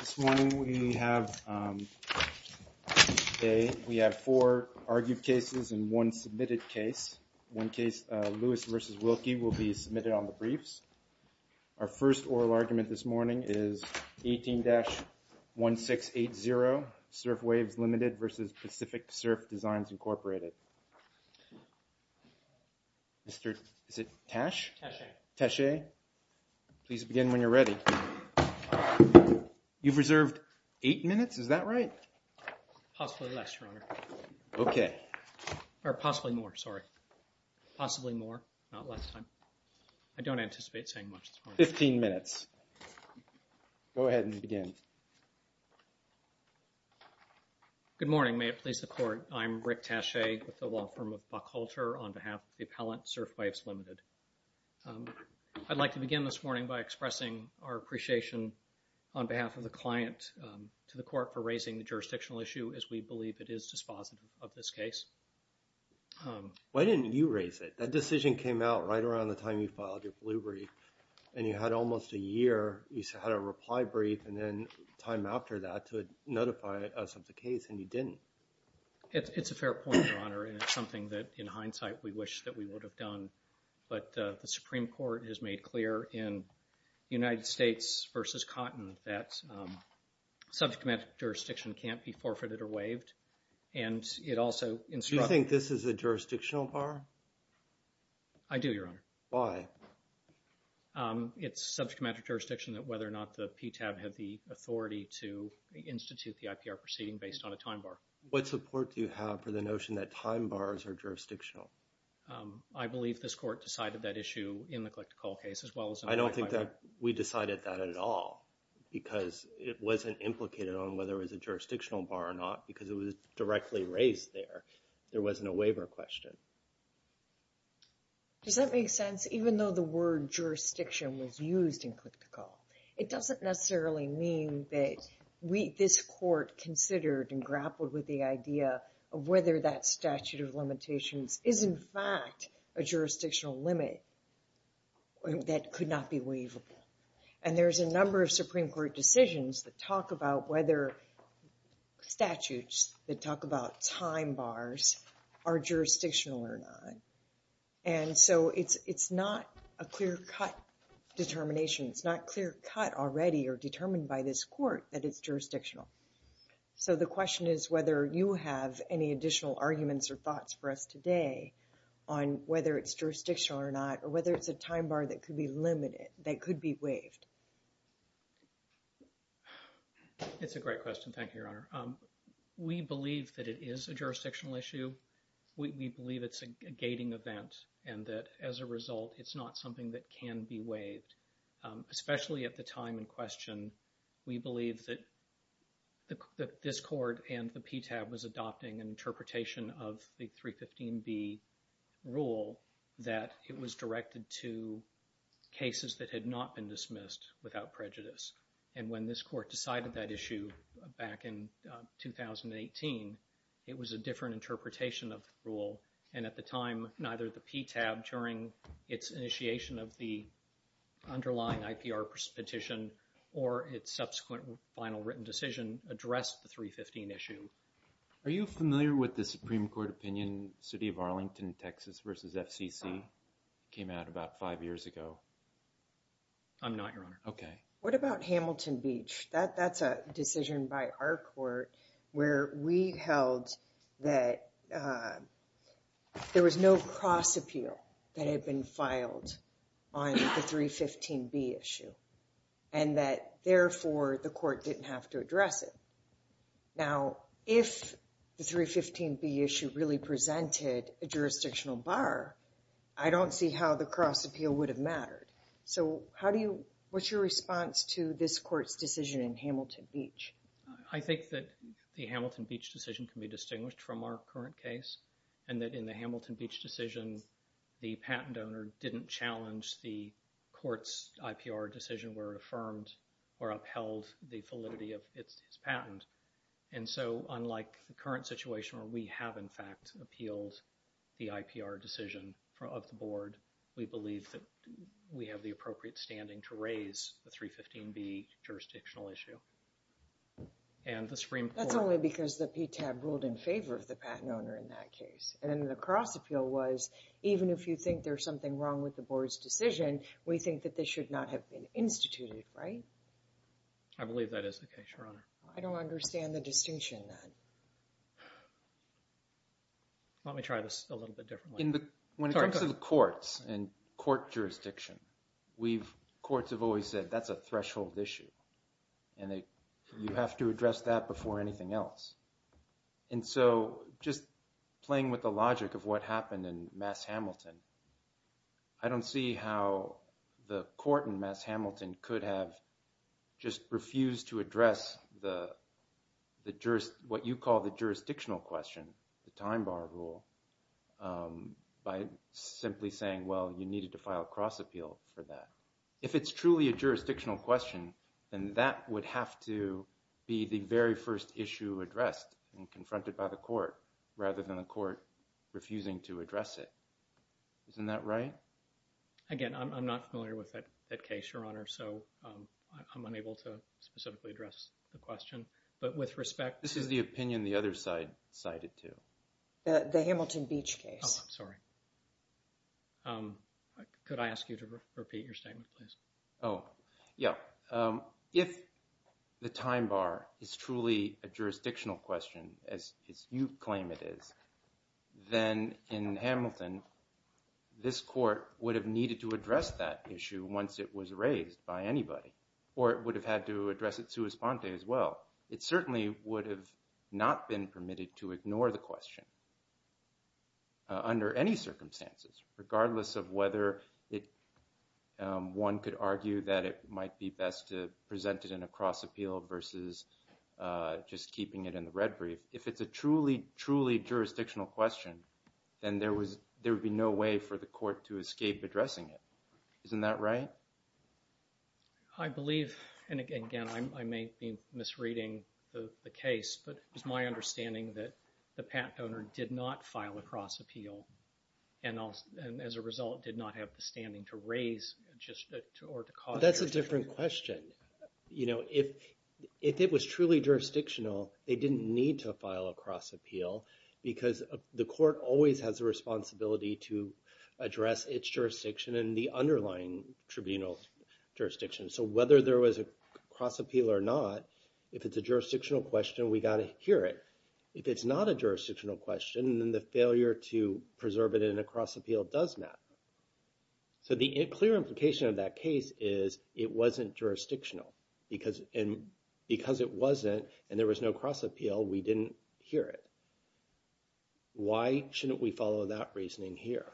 This morning we have four argued cases and one submitted case. One case, Lewis v. Wilkie, will be submitted on the briefs. Our first oral argument this morning is 18-1680, Surf Waves, Ltd. v. Pacific Surf Designs, Incorporated. Mr. Tasche, please begin when you're ready. You've reserved eight minutes, is that right? Possibly less, Your Honor. Okay. Or possibly more, sorry. Possibly more, not less time. I don't anticipate saying much this morning. Fifteen minutes. Go ahead and begin. Good morning. May it please the Court, I'm Rick Tasche with the law firm of Buck Holter on behalf of the appellant, Surf Waves, Ltd. I'd like to begin this morning by expressing our appreciation on behalf of the client to the Court for raising the jurisdictional issue as we believe it is dispositive of this case. Why didn't you raise it? That decision came out right around the time you filed your blue brief. And you had almost a year, you had a reply brief, and then time after that to notify us of the case, and you didn't. It's a fair point, Your Honor, and it's something that in hindsight we wish that we would have done. But the Supreme Court has made clear in United States v. Cotton that subject matter jurisdiction can't be forfeited or waived, and it also instructs – Do you think this is a jurisdictional bar? I do, Your Honor. Why? It's subject matter jurisdiction that whether or not the PTAB had the authority to institute the IPR proceeding based on a time bar. What support do you have for the notion that time bars are jurisdictional? I believe this Court decided that issue in the click-to-call case as well as in the reply brief. I don't think that we decided that at all because it wasn't implicated on whether it was a jurisdictional bar or not because it was directly raised there. There wasn't a waiver question. Does that make sense? Even though the word jurisdiction was used in click-to-call, it doesn't necessarily mean that this Court considered and grappled with the idea of whether that statute of limitations is in fact a jurisdictional limit that could not be waivable. And there's a number of Supreme Court decisions that talk about whether statutes that talk about time bars are jurisdictional or not. And so it's not a clear-cut determination. It's not clear-cut already or determined by this Court that it's jurisdictional. So the question is whether you have any additional arguments or thoughts for us today on whether it's jurisdictional or not or whether it's a time bar that could be limited, that could be waived. It's a great question. Thank you, Your Honor. We believe that it is a jurisdictional issue. We believe it's a gating event and that as a result, it's not something that can be waived. Especially at the time in question, we believe that this Court and the PTAB was adopting an interpretation of the 315B rule that it was directed to cases that had not been dismissed without prejudice. And when this Court decided that issue back in 2018, it was a different interpretation of the rule. And at the time, neither the PTAB during its initiation of the underlying IPR petition or its subsequent final written decision addressed the 315 issue. Are you familiar with the Supreme Court opinion, City of Arlington, Texas versus FCC? It came out about five years ago. I'm not, Your Honor. Okay. What about Hamilton Beach? That's a decision by our Court where we held that there was no cross appeal that had been filed on the 315B issue. And that, therefore, the Court didn't have to address it. Now, if the 315B issue really presented a jurisdictional bar, I don't see how the cross appeal would have mattered. So, how do you, what's your response to this Court's decision in Hamilton Beach? I think that the Hamilton Beach decision can be distinguished from our current case. And that in the Hamilton Beach decision, the patent owner didn't challenge the Court's IPR decision where it affirmed or upheld the validity of its patent. And so, unlike the current situation where we have, in fact, appealed the IPR decision of the Board, we believe that we have the appropriate standing to raise the 315B jurisdictional issue. That's only because the PTAB ruled in favor of the patent owner in that case. And then the cross appeal was, even if you think there's something wrong with the Board's decision, we think that this should not have been instituted, right? I believe that is the case, Your Honor. I don't understand the distinction. Let me try this a little bit differently. When it comes to the courts and court jurisdiction, courts have always said that's a threshold issue. And you have to address that before anything else. And so, just playing with the logic of what happened in Mass. Hamilton, I don't see how the court in Mass. Hamilton could have just refused to address what you call the jurisdictional question, the time bar rule, by simply saying, well, you needed to file a cross appeal for that. If it's truly a jurisdictional question, then that would have to be the very first issue addressed and confronted by the court, rather than the court refusing to address it. Isn't that right? Again, I'm not familiar with that case, Your Honor, so I'm unable to specifically address the question. But with respect to... This is the opinion the other side cited, too. The Hamilton Beach case. Oh, I'm sorry. Could I ask you to repeat your statement, please? Oh, yeah. If the time bar is truly a jurisdictional question, as you claim it is, then in Hamilton, this court would have needed to address that issue once it was raised by anybody, or it would have had to address it sua sponte as well. It certainly would have not been permitted to ignore the question. Under any circumstances, regardless of whether one could argue that it might be best to present it in a cross appeal versus just keeping it in the red brief. If it's a truly, truly jurisdictional question, then there would be no way for the court to escape addressing it. Isn't that right? I believe, and again, I may be misreading the case, but it was my understanding that the patent owner did not file a cross appeal. And as a result, did not have the standing to raise or to cause... That's a different question. If it was truly jurisdictional, they didn't need to file a cross appeal because the court always has a responsibility to address its jurisdiction and the underlying tribunal jurisdiction. So whether there was a cross appeal or not, if it's a jurisdictional question, we got to hear it. If it's not a jurisdictional question, then the failure to preserve it in a cross appeal does matter. So the clear implication of that case is it wasn't jurisdictional. Because it wasn't and there was no cross appeal, we didn't hear it. Why shouldn't we follow that reasoning here?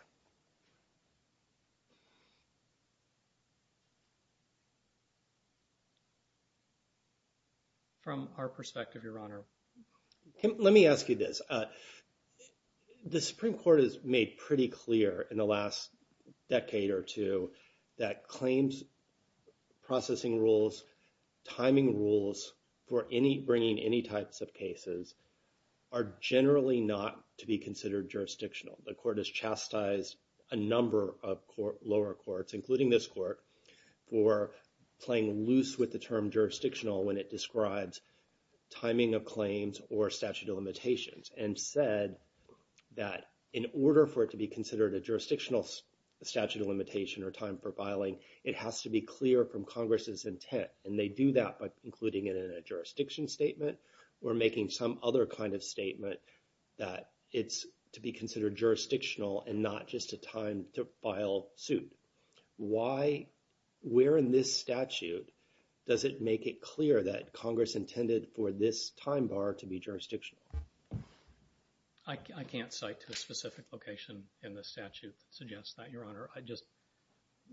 From our perspective, Your Honor. Let me ask you this. The Supreme Court has made pretty clear in the last decade or two that claims, processing rules, timing rules for bringing any types of cases are generally not to be considered jurisdictional. The court has chastised a number of lower courts, including this court, for playing loose with the term jurisdictional when it describes timing of claims or statute of limitations. And said that in order for it to be considered a jurisdictional statute of limitation or time for filing, it has to be clear from Congress's intent. And they do that by including it in a jurisdiction statement or making some other kind of statement that it's to be considered jurisdictional and not just a time to file suit. Where in this statute does it make it clear that Congress intended for this time bar to be jurisdictional? I can't cite a specific location in the statute that suggests that, Your Honor.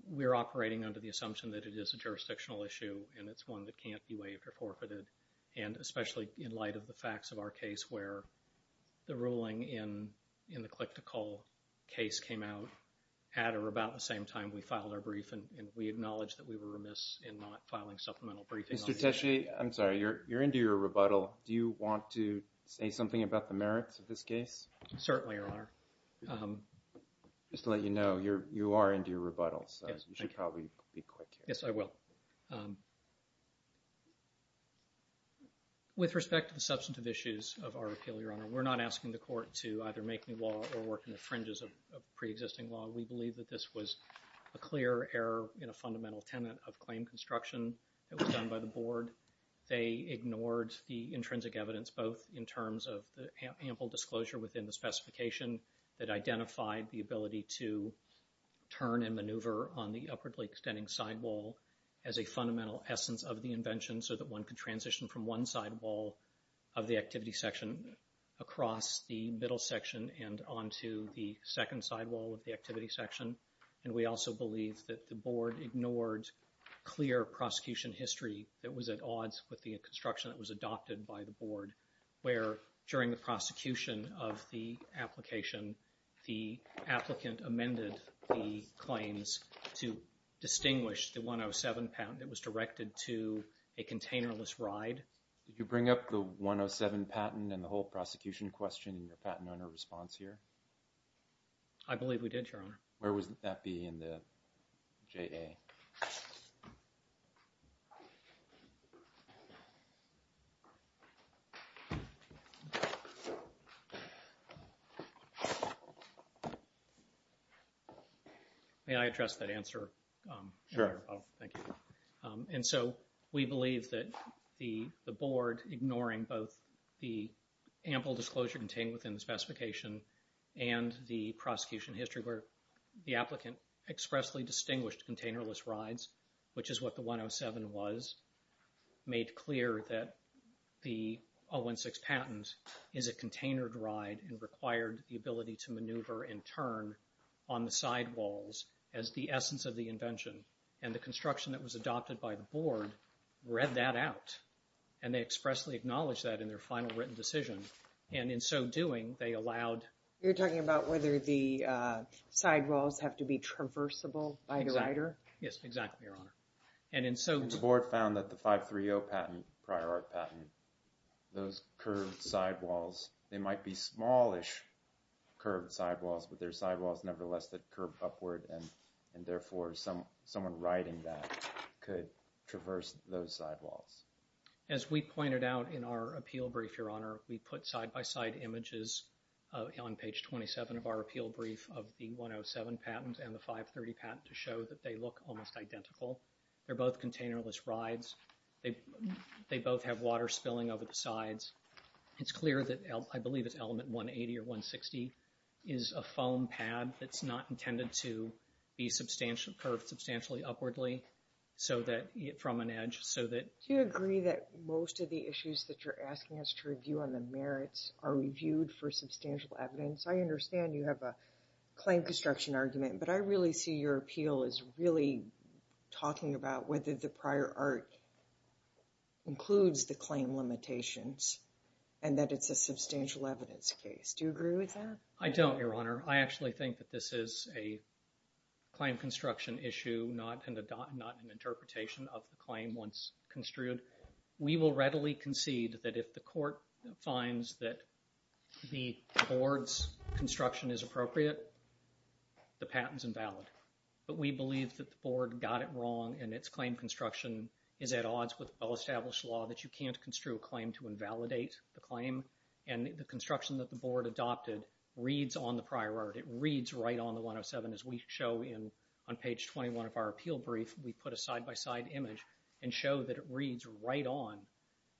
We're operating under the assumption that it is a jurisdictional issue and it's one that can't be waived or forfeited. And especially in light of the facts of our case where the ruling in the Click to Call case came out at or about the same time we filed our brief. And we acknowledge that we were remiss in not filing supplemental briefings on the issue. Mr. Teshi, I'm sorry, you're into your rebuttal. Do you want to say something about the merits of this case? Certainly, Your Honor. Just to let you know, you are into your rebuttal, so you should probably be quick. Yes, I will. With respect to the substantive issues of our appeal, Your Honor, we're not asking the court to either make new law or work in the fringes of preexisting law. We believe that this was a clear error in a fundamental tenet of claim construction that was done by the board. They ignored the intrinsic evidence, both in terms of the ample disclosure within the specification that identified the ability to turn and maneuver on the upwardly extending sidewall as a fundamental essence of the invention so that one could transition from one sidewall of the activity section across the middle section and onto the second sidewall of the activity section. And we also believe that the board ignored clear prosecution history that was at odds with the construction that was adopted by the board, where during the prosecution of the application, the applicant amended the claims to distinguish the 107 patent that was directed to a containerless ride. Did you bring up the 107 patent and the whole prosecution question in the patent owner response here? Where would that be in the JA? May I address that answer? Sure. And so we believe that the board, ignoring both the ample disclosure contained within the specification and the prosecution history where the applicant expressly distinguished containerless rides, which is what the 107 was, made clear that the 016 patent is a containered ride and required the ability to maneuver and turn on the sidewalls as the essence of the invention. And the construction that was adopted by the board read that out. And they expressly acknowledged that in their final written decision. And in so doing, they allowed... You're talking about whether the sidewalls have to be traversable by the rider? Yes, exactly, Your Honor. And in so... The board found that the 530 patent, prior art patent, those curved sidewalls, they might be smallish curved sidewalls, but they're sidewalls, nevertheless, that curve upward. And therefore, someone riding that could traverse those sidewalls. As we pointed out in our appeal brief, Your Honor, we put side-by-side images on page 27 of our appeal brief of the 107 patent and the 530 patent to show that they look almost identical. They're both containerless rides. They both have water spilling over the sides. It's clear that I believe it's element 180 or 160 is a foam pad that's not intended to be curved substantially upwardly from an edge so that... Do you agree that most of the issues that you're asking us to review on the merits are reviewed for substantial evidence? I understand you have a claim construction argument, but I really see your appeal as really talking about whether the prior art includes the claim limitations and that it's a substantial evidence case. Do you agree with that? I don't, Your Honor. I actually think that this is a claim construction issue, not an interpretation of the claim once construed. We will readily concede that if the court finds that the board's construction is appropriate, the patent's invalid. But we believe that the board got it wrong and its claim construction is at odds with well-established law that you can't construe a claim to invalidate the claim. And the construction that the board adopted reads on the prior art. It reads right on the 107. As we show on page 21 of our appeal brief, we put a side-by-side image and show that it reads right on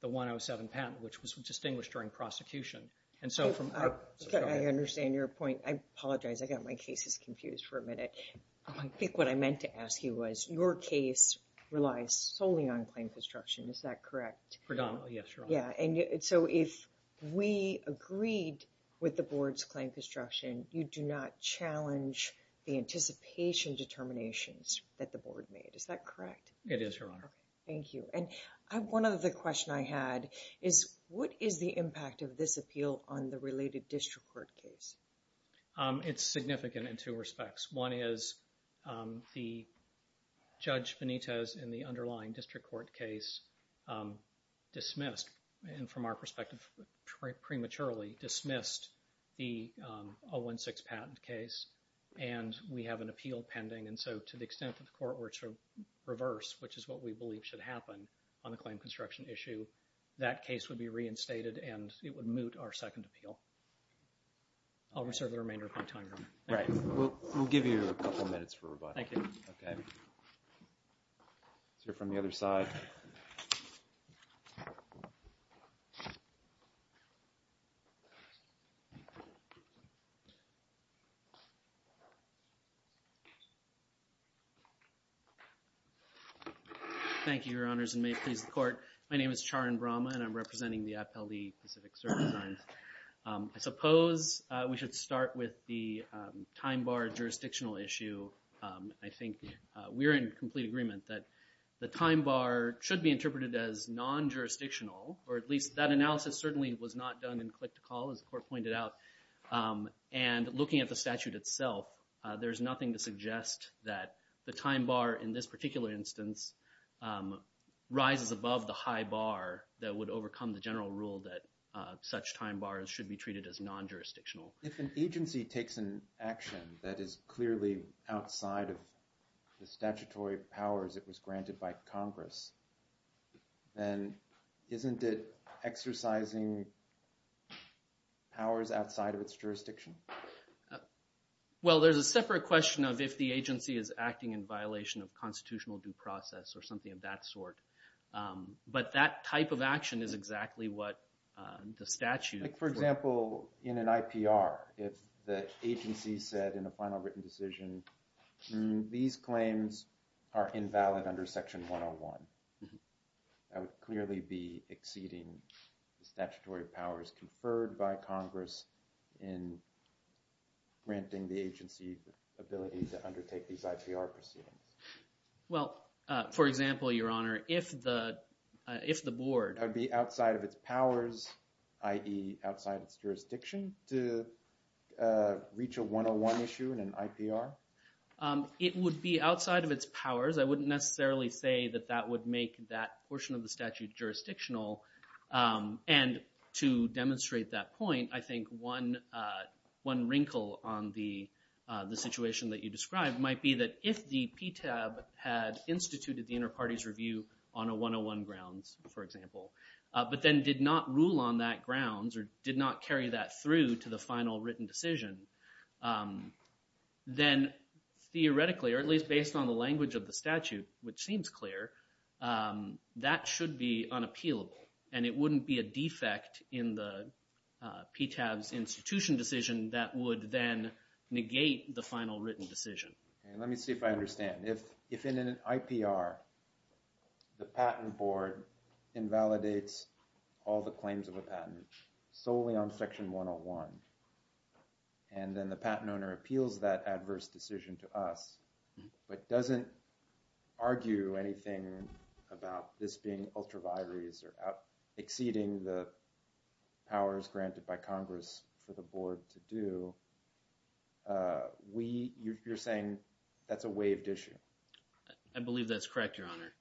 the 107 patent, which was distinguished during prosecution. I understand your point. I apologize. I got my cases confused for a minute. I think what I meant to ask you was your case relies solely on claim construction. Is that correct? Predominantly, yes, Your Honor. Yeah, and so if we agreed with the board's claim construction, you do not challenge the anticipation determinations that the board made. Is that correct? It is, Your Honor. Thank you. And one other question I had is what is the impact of this appeal on the related district court case? It's significant in two respects. One is the Judge Benitez in the underlying district court case dismissed, and from our perspective, prematurely dismissed the 016 patent case, and we have an appeal pending. And so to the extent that the court were to reverse, which is what we believe should happen on the claim construction issue, that case would be reinstated and it would moot our second appeal. I'll reserve the remainder of my time, Your Honor. Right. We'll give you a couple minutes for rebuttal. Thank you. Okay. Let's hear from the other side. Thank you, Your Honors, and may it please the court. My name is Charan Brahma, and I'm representing the Appellee Pacific Service lines. I suppose we should start with the time bar jurisdictional issue. I think we're in complete agreement that the time bar should be interpreted as non-jurisdictional, or at least that analysis certainly was not done in click-to-call, as the court pointed out. And looking at the statute itself, there's nothing to suggest that the time bar in this particular instance rises above the high bar that would overcome the general rule that such time bars should be treated as non-jurisdictional. If an agency takes an action that is clearly outside of the statutory powers that was granted by Congress, then isn't it exercising powers outside of its jurisdiction? Well, there's a separate question of if the agency is acting in violation of constitutional due process or something of that sort. But that type of action is exactly what the statute – For example, in an IPR, if the agency said in a final written decision, these claims are invalid under section 101, that would clearly be exceeding the statutory powers conferred by Congress in granting the agency the ability to undertake these IPR proceedings. Well, for example, Your Honor, if the board – Would it be outside its jurisdiction to reach a 101 issue in an IPR? It would be outside of its powers. I wouldn't necessarily say that that would make that portion of the statute jurisdictional. And to demonstrate that point, I think one wrinkle on the situation that you described might be that if the PTAB had instituted the Interparties Review on a 101 grounds, for example, but then did not rule on that grounds or did not carry that through to the final written decision, then theoretically, or at least based on the language of the statute, which seems clear, that should be unappealable. And it wouldn't be a defect in the PTAB's institution decision that would then negate the final written decision. Let me see if I understand. If in an IPR, the patent board invalidates all the claims of a patent solely on section 101, and then the patent owner appeals that adverse decision to us, but doesn't argue anything about this being ultra vires or exceeding the powers granted by Congress for the board to do, you're saying that's a waived issue? I believe that's correct, Your Honor.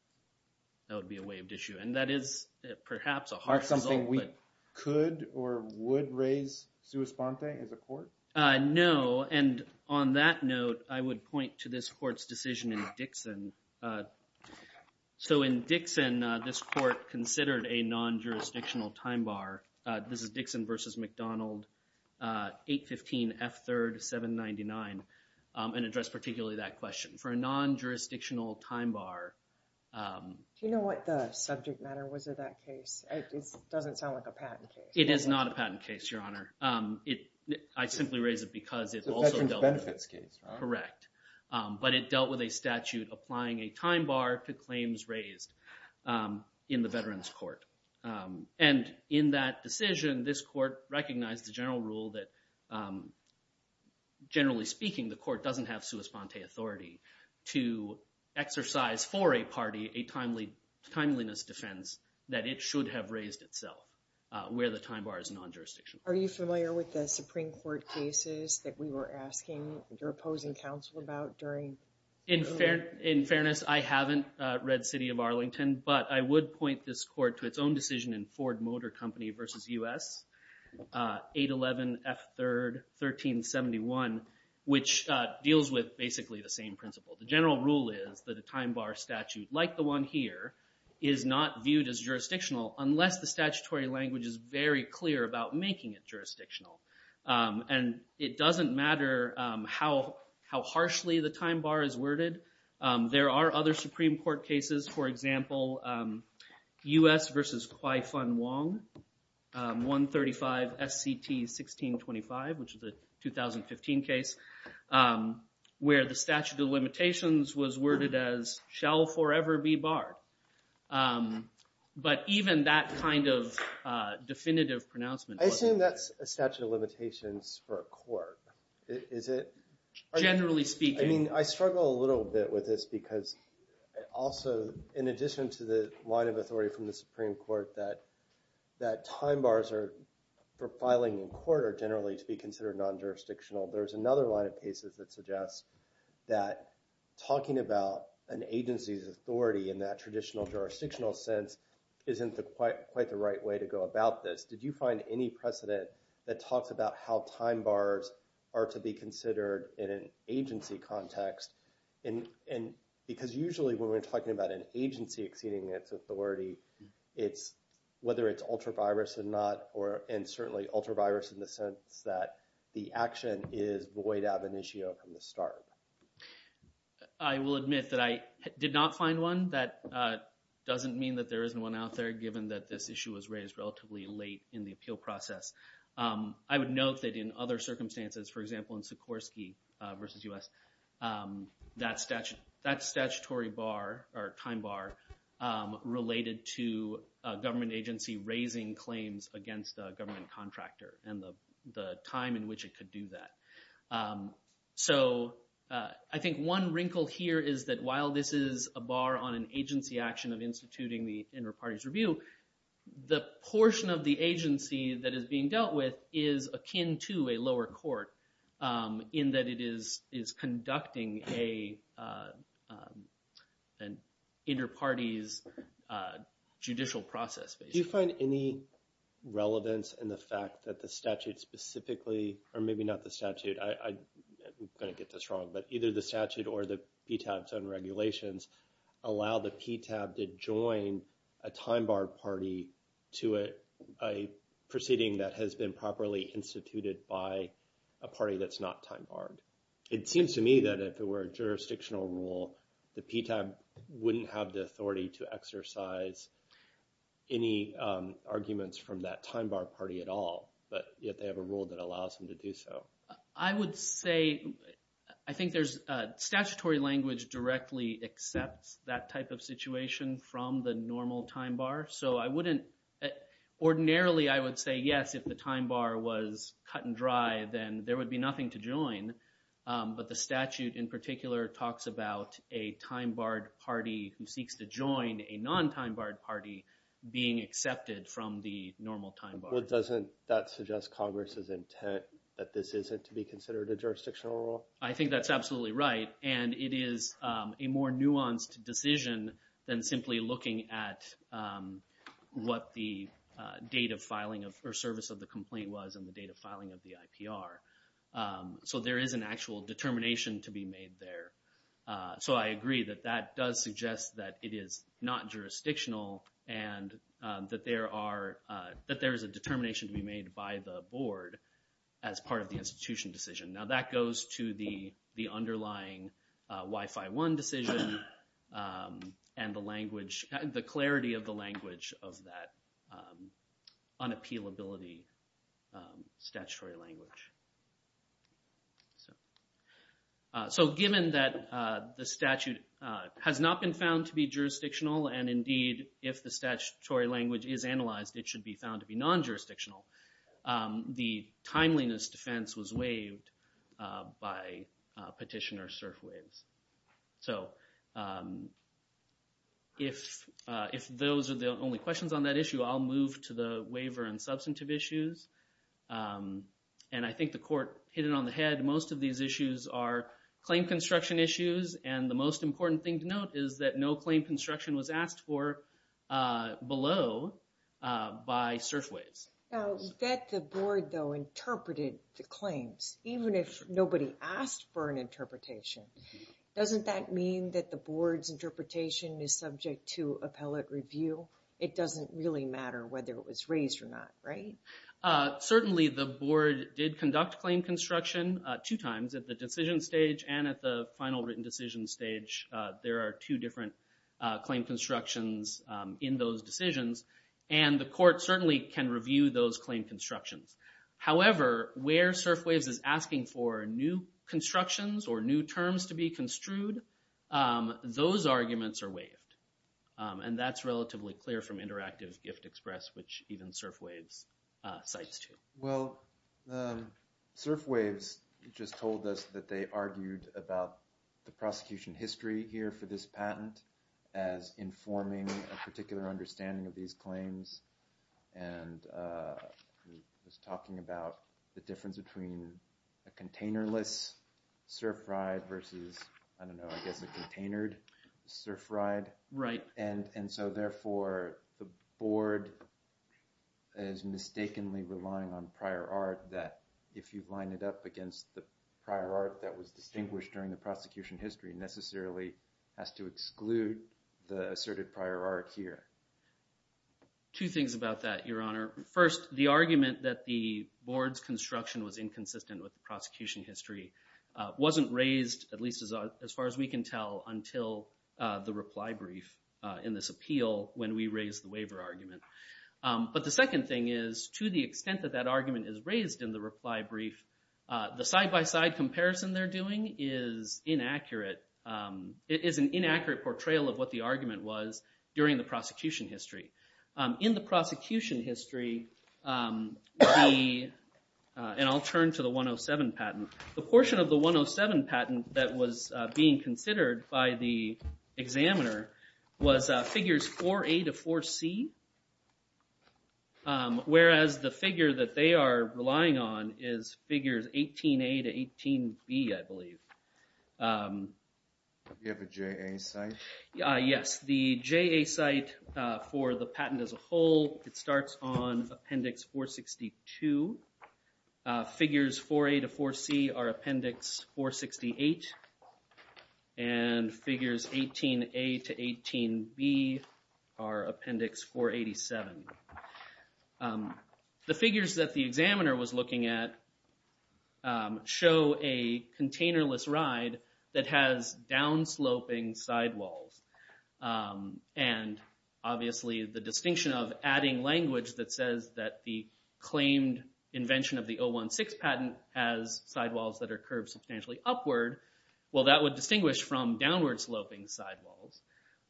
That would be a waived issue. And that is perhaps a harsh result. Aren't something we could or would raise sua sponte as a court? No. And on that note, I would point to this court's decision in Dixon. So in Dixon, this court considered a non-jurisdictional time bar. This is Dixon v. McDonald, 815 F. 3rd, 799, and addressed particularly that question. For a non-jurisdictional time bar. Do you know what the subject matter was of that case? It doesn't sound like a patent case. It is not a patent case, Your Honor. I simply raise it because it also dealt with a statute applying a time bar to claims raised in the Veterans Court. And in that decision, this court recognized the general rule that generally speaking, the court doesn't have sua sponte authority to exercise for a party a timeliness defense that it should have raised itself. Where the time bar is non-jurisdictional. Are you familiar with the Supreme Court cases that we were asking your opposing counsel about during? In fairness, I haven't read City of Arlington, but I would point this court to its own decision in Ford Motor Company v. U.S., 811 F. 3rd, 1371, which deals with basically the same principle. The general rule is that a time bar statute like the one here is not viewed as jurisdictional unless the statutory language is very clear about making it jurisdictional. And it doesn't matter how harshly the time bar is worded. There are other Supreme Court cases, for example, U.S. v. Kwai-Fung Wong, 135 S.C.T. 1625, which is a 2015 case, where the statute of limitations was worded as, shall forever be barred. But even that kind of definitive pronouncement- Also, in addition to the line of authority from the Supreme Court that time bars for filing in court are generally to be considered non-jurisdictional, there's another line of cases that suggests that talking about an agency's authority in that traditional jurisdictional sense isn't quite the right way to go about this. Did you find any precedent that talks about how time bars are to be considered in an agency context? Because usually when we're talking about an agency exceeding its authority, whether it's ultra-virus or not, and certainly ultra-virus in the sense that the action is void ab initio from the start. I will admit that I did not find one. That doesn't mean that there isn't one out there, given that this issue was raised relatively late in the appeal process. I would note that in other circumstances, for example, in Sikorsky v. U.S., that statutory time bar related to a government agency raising claims against a government contractor and the time in which it could do that. So I think one wrinkle here is that while this is a bar on an agency action of instituting the inter-parties review, the portion of the agency that is being dealt with is akin to a lower court in that it is conducting an inter-parties judicial process. Do you find any relevance in the fact that the statute specifically, or maybe not the statute, I'm going to get this wrong, but either the statute or the PTAB's own regulations allow the PTAB to join a time bar party to a proceeding that has been properly instituted by a party that's not time barred? It seems to me that if it were a jurisdictional rule, the PTAB wouldn't have the authority to exercise any arguments from that time bar party at all, but yet they have a rule that allows them to do so. I would say – I think there's statutory language directly accepts that type of situation from the normal time bar. So I wouldn't – ordinarily I would say yes, if the time bar was cut and dry, then there would be nothing to join. But the statute in particular talks about a time barred party who seeks to join a non-time barred party being accepted from the normal time bar. But doesn't that suggest Congress's intent that this isn't to be considered a jurisdictional rule? I think that's absolutely right, and it is a more nuanced decision than simply looking at what the date of filing or service of the complaint was and the date of filing of the IPR. So there is an actual determination to be made there. So I agree that that does suggest that it is not jurisdictional and that there are – that there is a determination to be made by the board as part of the institution decision. Now that goes to the underlying Wi-Fi One decision and the language – the clarity of the language of that unappealability statutory language. So given that the statute has not been found to be jurisdictional, and indeed if the statutory language is analyzed it should be found to be non-jurisdictional, the timeliness defense was waived by Petitioner-Surf Ways. So if those are the only questions on that issue, I'll move to the waiver and substantive issues. And I think the court hit it on the head, most of these issues are claim construction issues and the most important thing to note is that no claim construction was asked for below by Surf Ways. Now that the board though interpreted the claims, even if nobody asked for an interpretation, doesn't that mean that the board's interpretation is subject to appellate review? It doesn't really matter whether it was raised or not, right? Certainly the board did conduct claim construction two times at the decision stage and at the final written decision stage. There are two different claim constructions in those decisions and the court certainly can review those claim constructions. However, where Surf Ways is asking for new constructions or new terms to be construed, those arguments are waived. And that's relatively clear from Interactive Gift Express, which even Surf Ways cites too. Well, Surf Ways just told us that they argued about the prosecution history here for this patent as informing a particular understanding of these claims and was talking about the difference between a container-less surf ride versus, I don't know, I guess a containered surf ride. Right. And so therefore the board is mistakenly relying on prior art that if you line it up against the prior art that was distinguished during the prosecution history necessarily has to exclude the asserted prior art here. Two things about that, Your Honor. First, the argument that the board's construction was inconsistent with the prosecution history wasn't raised, at least as far as we can tell, until the reply brief in this appeal when we raised the waiver argument. But the second thing is to the extent that that argument is raised in the reply brief, the side-by-side comparison they're doing is inaccurate. It is an inaccurate portrayal of what the argument was during the prosecution history. In the prosecution history, and I'll turn to the 107 patent, the portion of the 107 patent that was being considered by the examiner was figures 4A to 4C, whereas the figure that they are relying on is figures 18A to 18B, I believe. You have a JA site? Yes. The JA site for the patent as a whole, it starts on Appendix 462. Figures 4A to 4C are Appendix 468, and figures 18A to 18B are Appendix 487. The figures that the examiner was looking at show a container-less ride that has down-sloping sidewalls. Obviously, the distinction of adding language that says that the claimed invention of the 016 patent has sidewalls that are curved substantially upward, that would distinguish from downward-sloping sidewalls.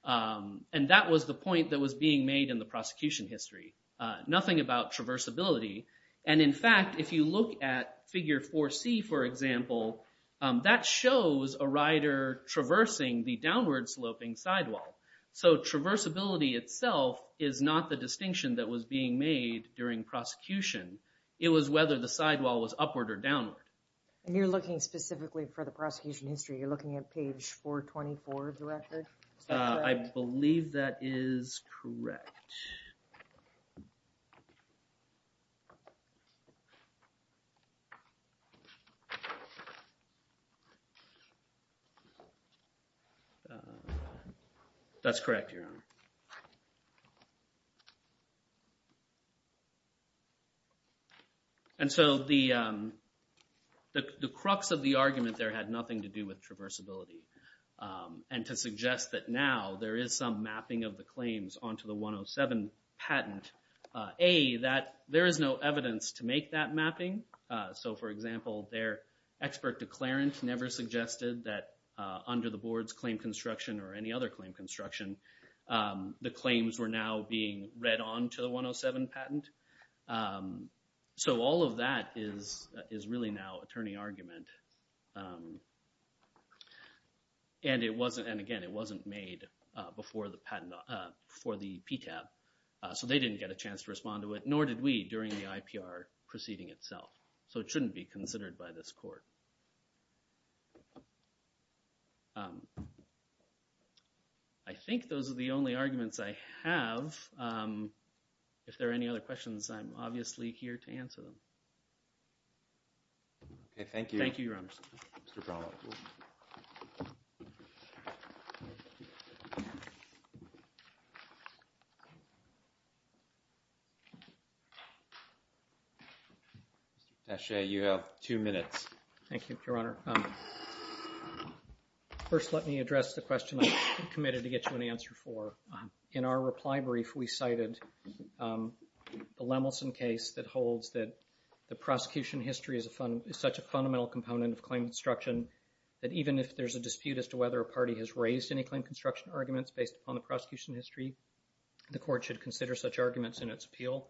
That was the point that was being made in the prosecution history. Nothing about traversability. In fact, if you look at figure 4C, for example, that shows a rider traversing the downward-sloping sidewall. Traversability itself is not the distinction that was being made during prosecution. It was whether the sidewall was upward or downward. And you're looking specifically for the prosecution history. You're looking at page 424 directly? I believe that is correct. And so the crux of the argument there had nothing to do with traversability. And to suggest that now there is some mapping of the claims onto the 107 patent, A, that there is no evidence to make that mapping. So, for example, their expert declarant never suggested that under the board's claim construction or any other claim construction, the claims were now being read onto the 107 patent. So all of that is really now attorney argument. And again, it wasn't made before the PTAB. So they didn't get a chance to respond to it, nor did we during the IPR proceeding itself. So it shouldn't be considered by this court. I think those are the only arguments I have. If there are any other questions, I'm obviously here to answer them. Okay, thank you. Thank you, Your Honor. Thank you, Your Honor. First, let me address the question I committed to get you an answer for. In our reply brief, we cited the Lemelson case that holds that the prosecution history is such a fundamental component of claim construction, that even if there's a dispute as to whether a party has raised any claim construction arguments based upon the prosecution history, the court should consider such arguments in its appeal.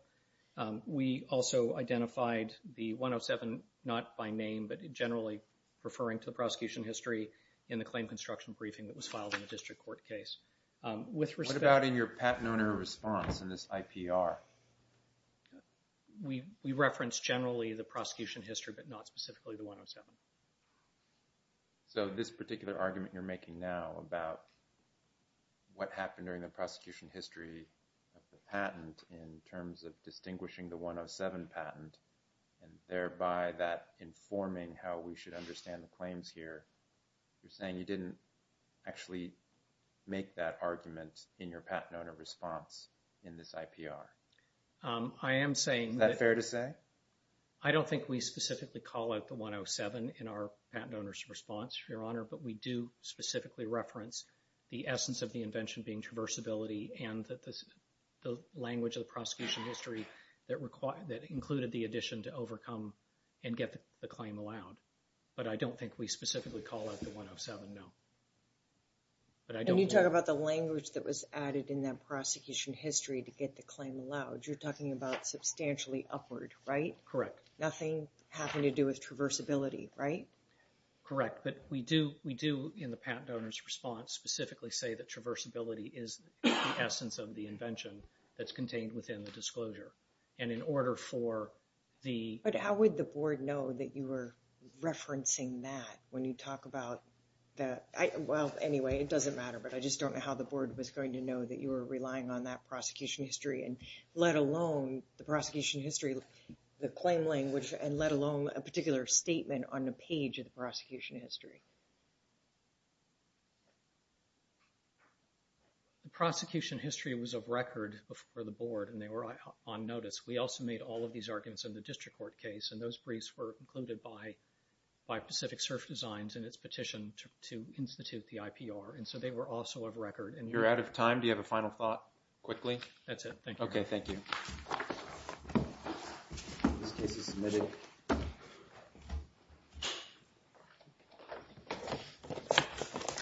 We also identified the 107, not by name, but generally referring to the prosecution history in the claim construction briefing that was filed in the district court case. What about in your patent owner response in this IPR? We referenced generally the prosecution history, but not specifically the 107. So this particular argument you're making now about what happened during the prosecution history of the patent in terms of distinguishing the 107 patent, and thereby that informing how we should understand the claims here, you're saying you didn't actually make that argument in your patent owner response in this IPR? I am saying that... Is that fair to say? I don't think we specifically call out the 107 in our patent owner's response, Your Honor, but we do specifically reference the essence of the invention being traversability and the language of the prosecution history that included the addition to overcome and get the claim allowed. But I don't think we specifically call out the 107, no. And you talk about the language that was added in that prosecution history to get the claim allowed. You're talking about substantially upward, right? Correct. Nothing having to do with traversability, right? Correct, but we do in the patent owner's response specifically say that traversability is the essence of the invention that's contained within the disclosure. But how would the board know that you were referencing that when you talk about that? Well, anyway, it doesn't matter, but I just don't know how the board was going to know that you were relying on that prosecution history, let alone the prosecution history, the claim language, and let alone a particular statement on a page of the prosecution history. The prosecution history was of record for the board, and they were on notice. We also made all of these arguments in the district court case, and those briefs were included by Pacific Surf Designs in its petition to institute the IPR, and so they were also of record. You're out of time. Do you have a final thought quickly? That's it. Thank you. Okay, thank you. This case is submitted. Thank you.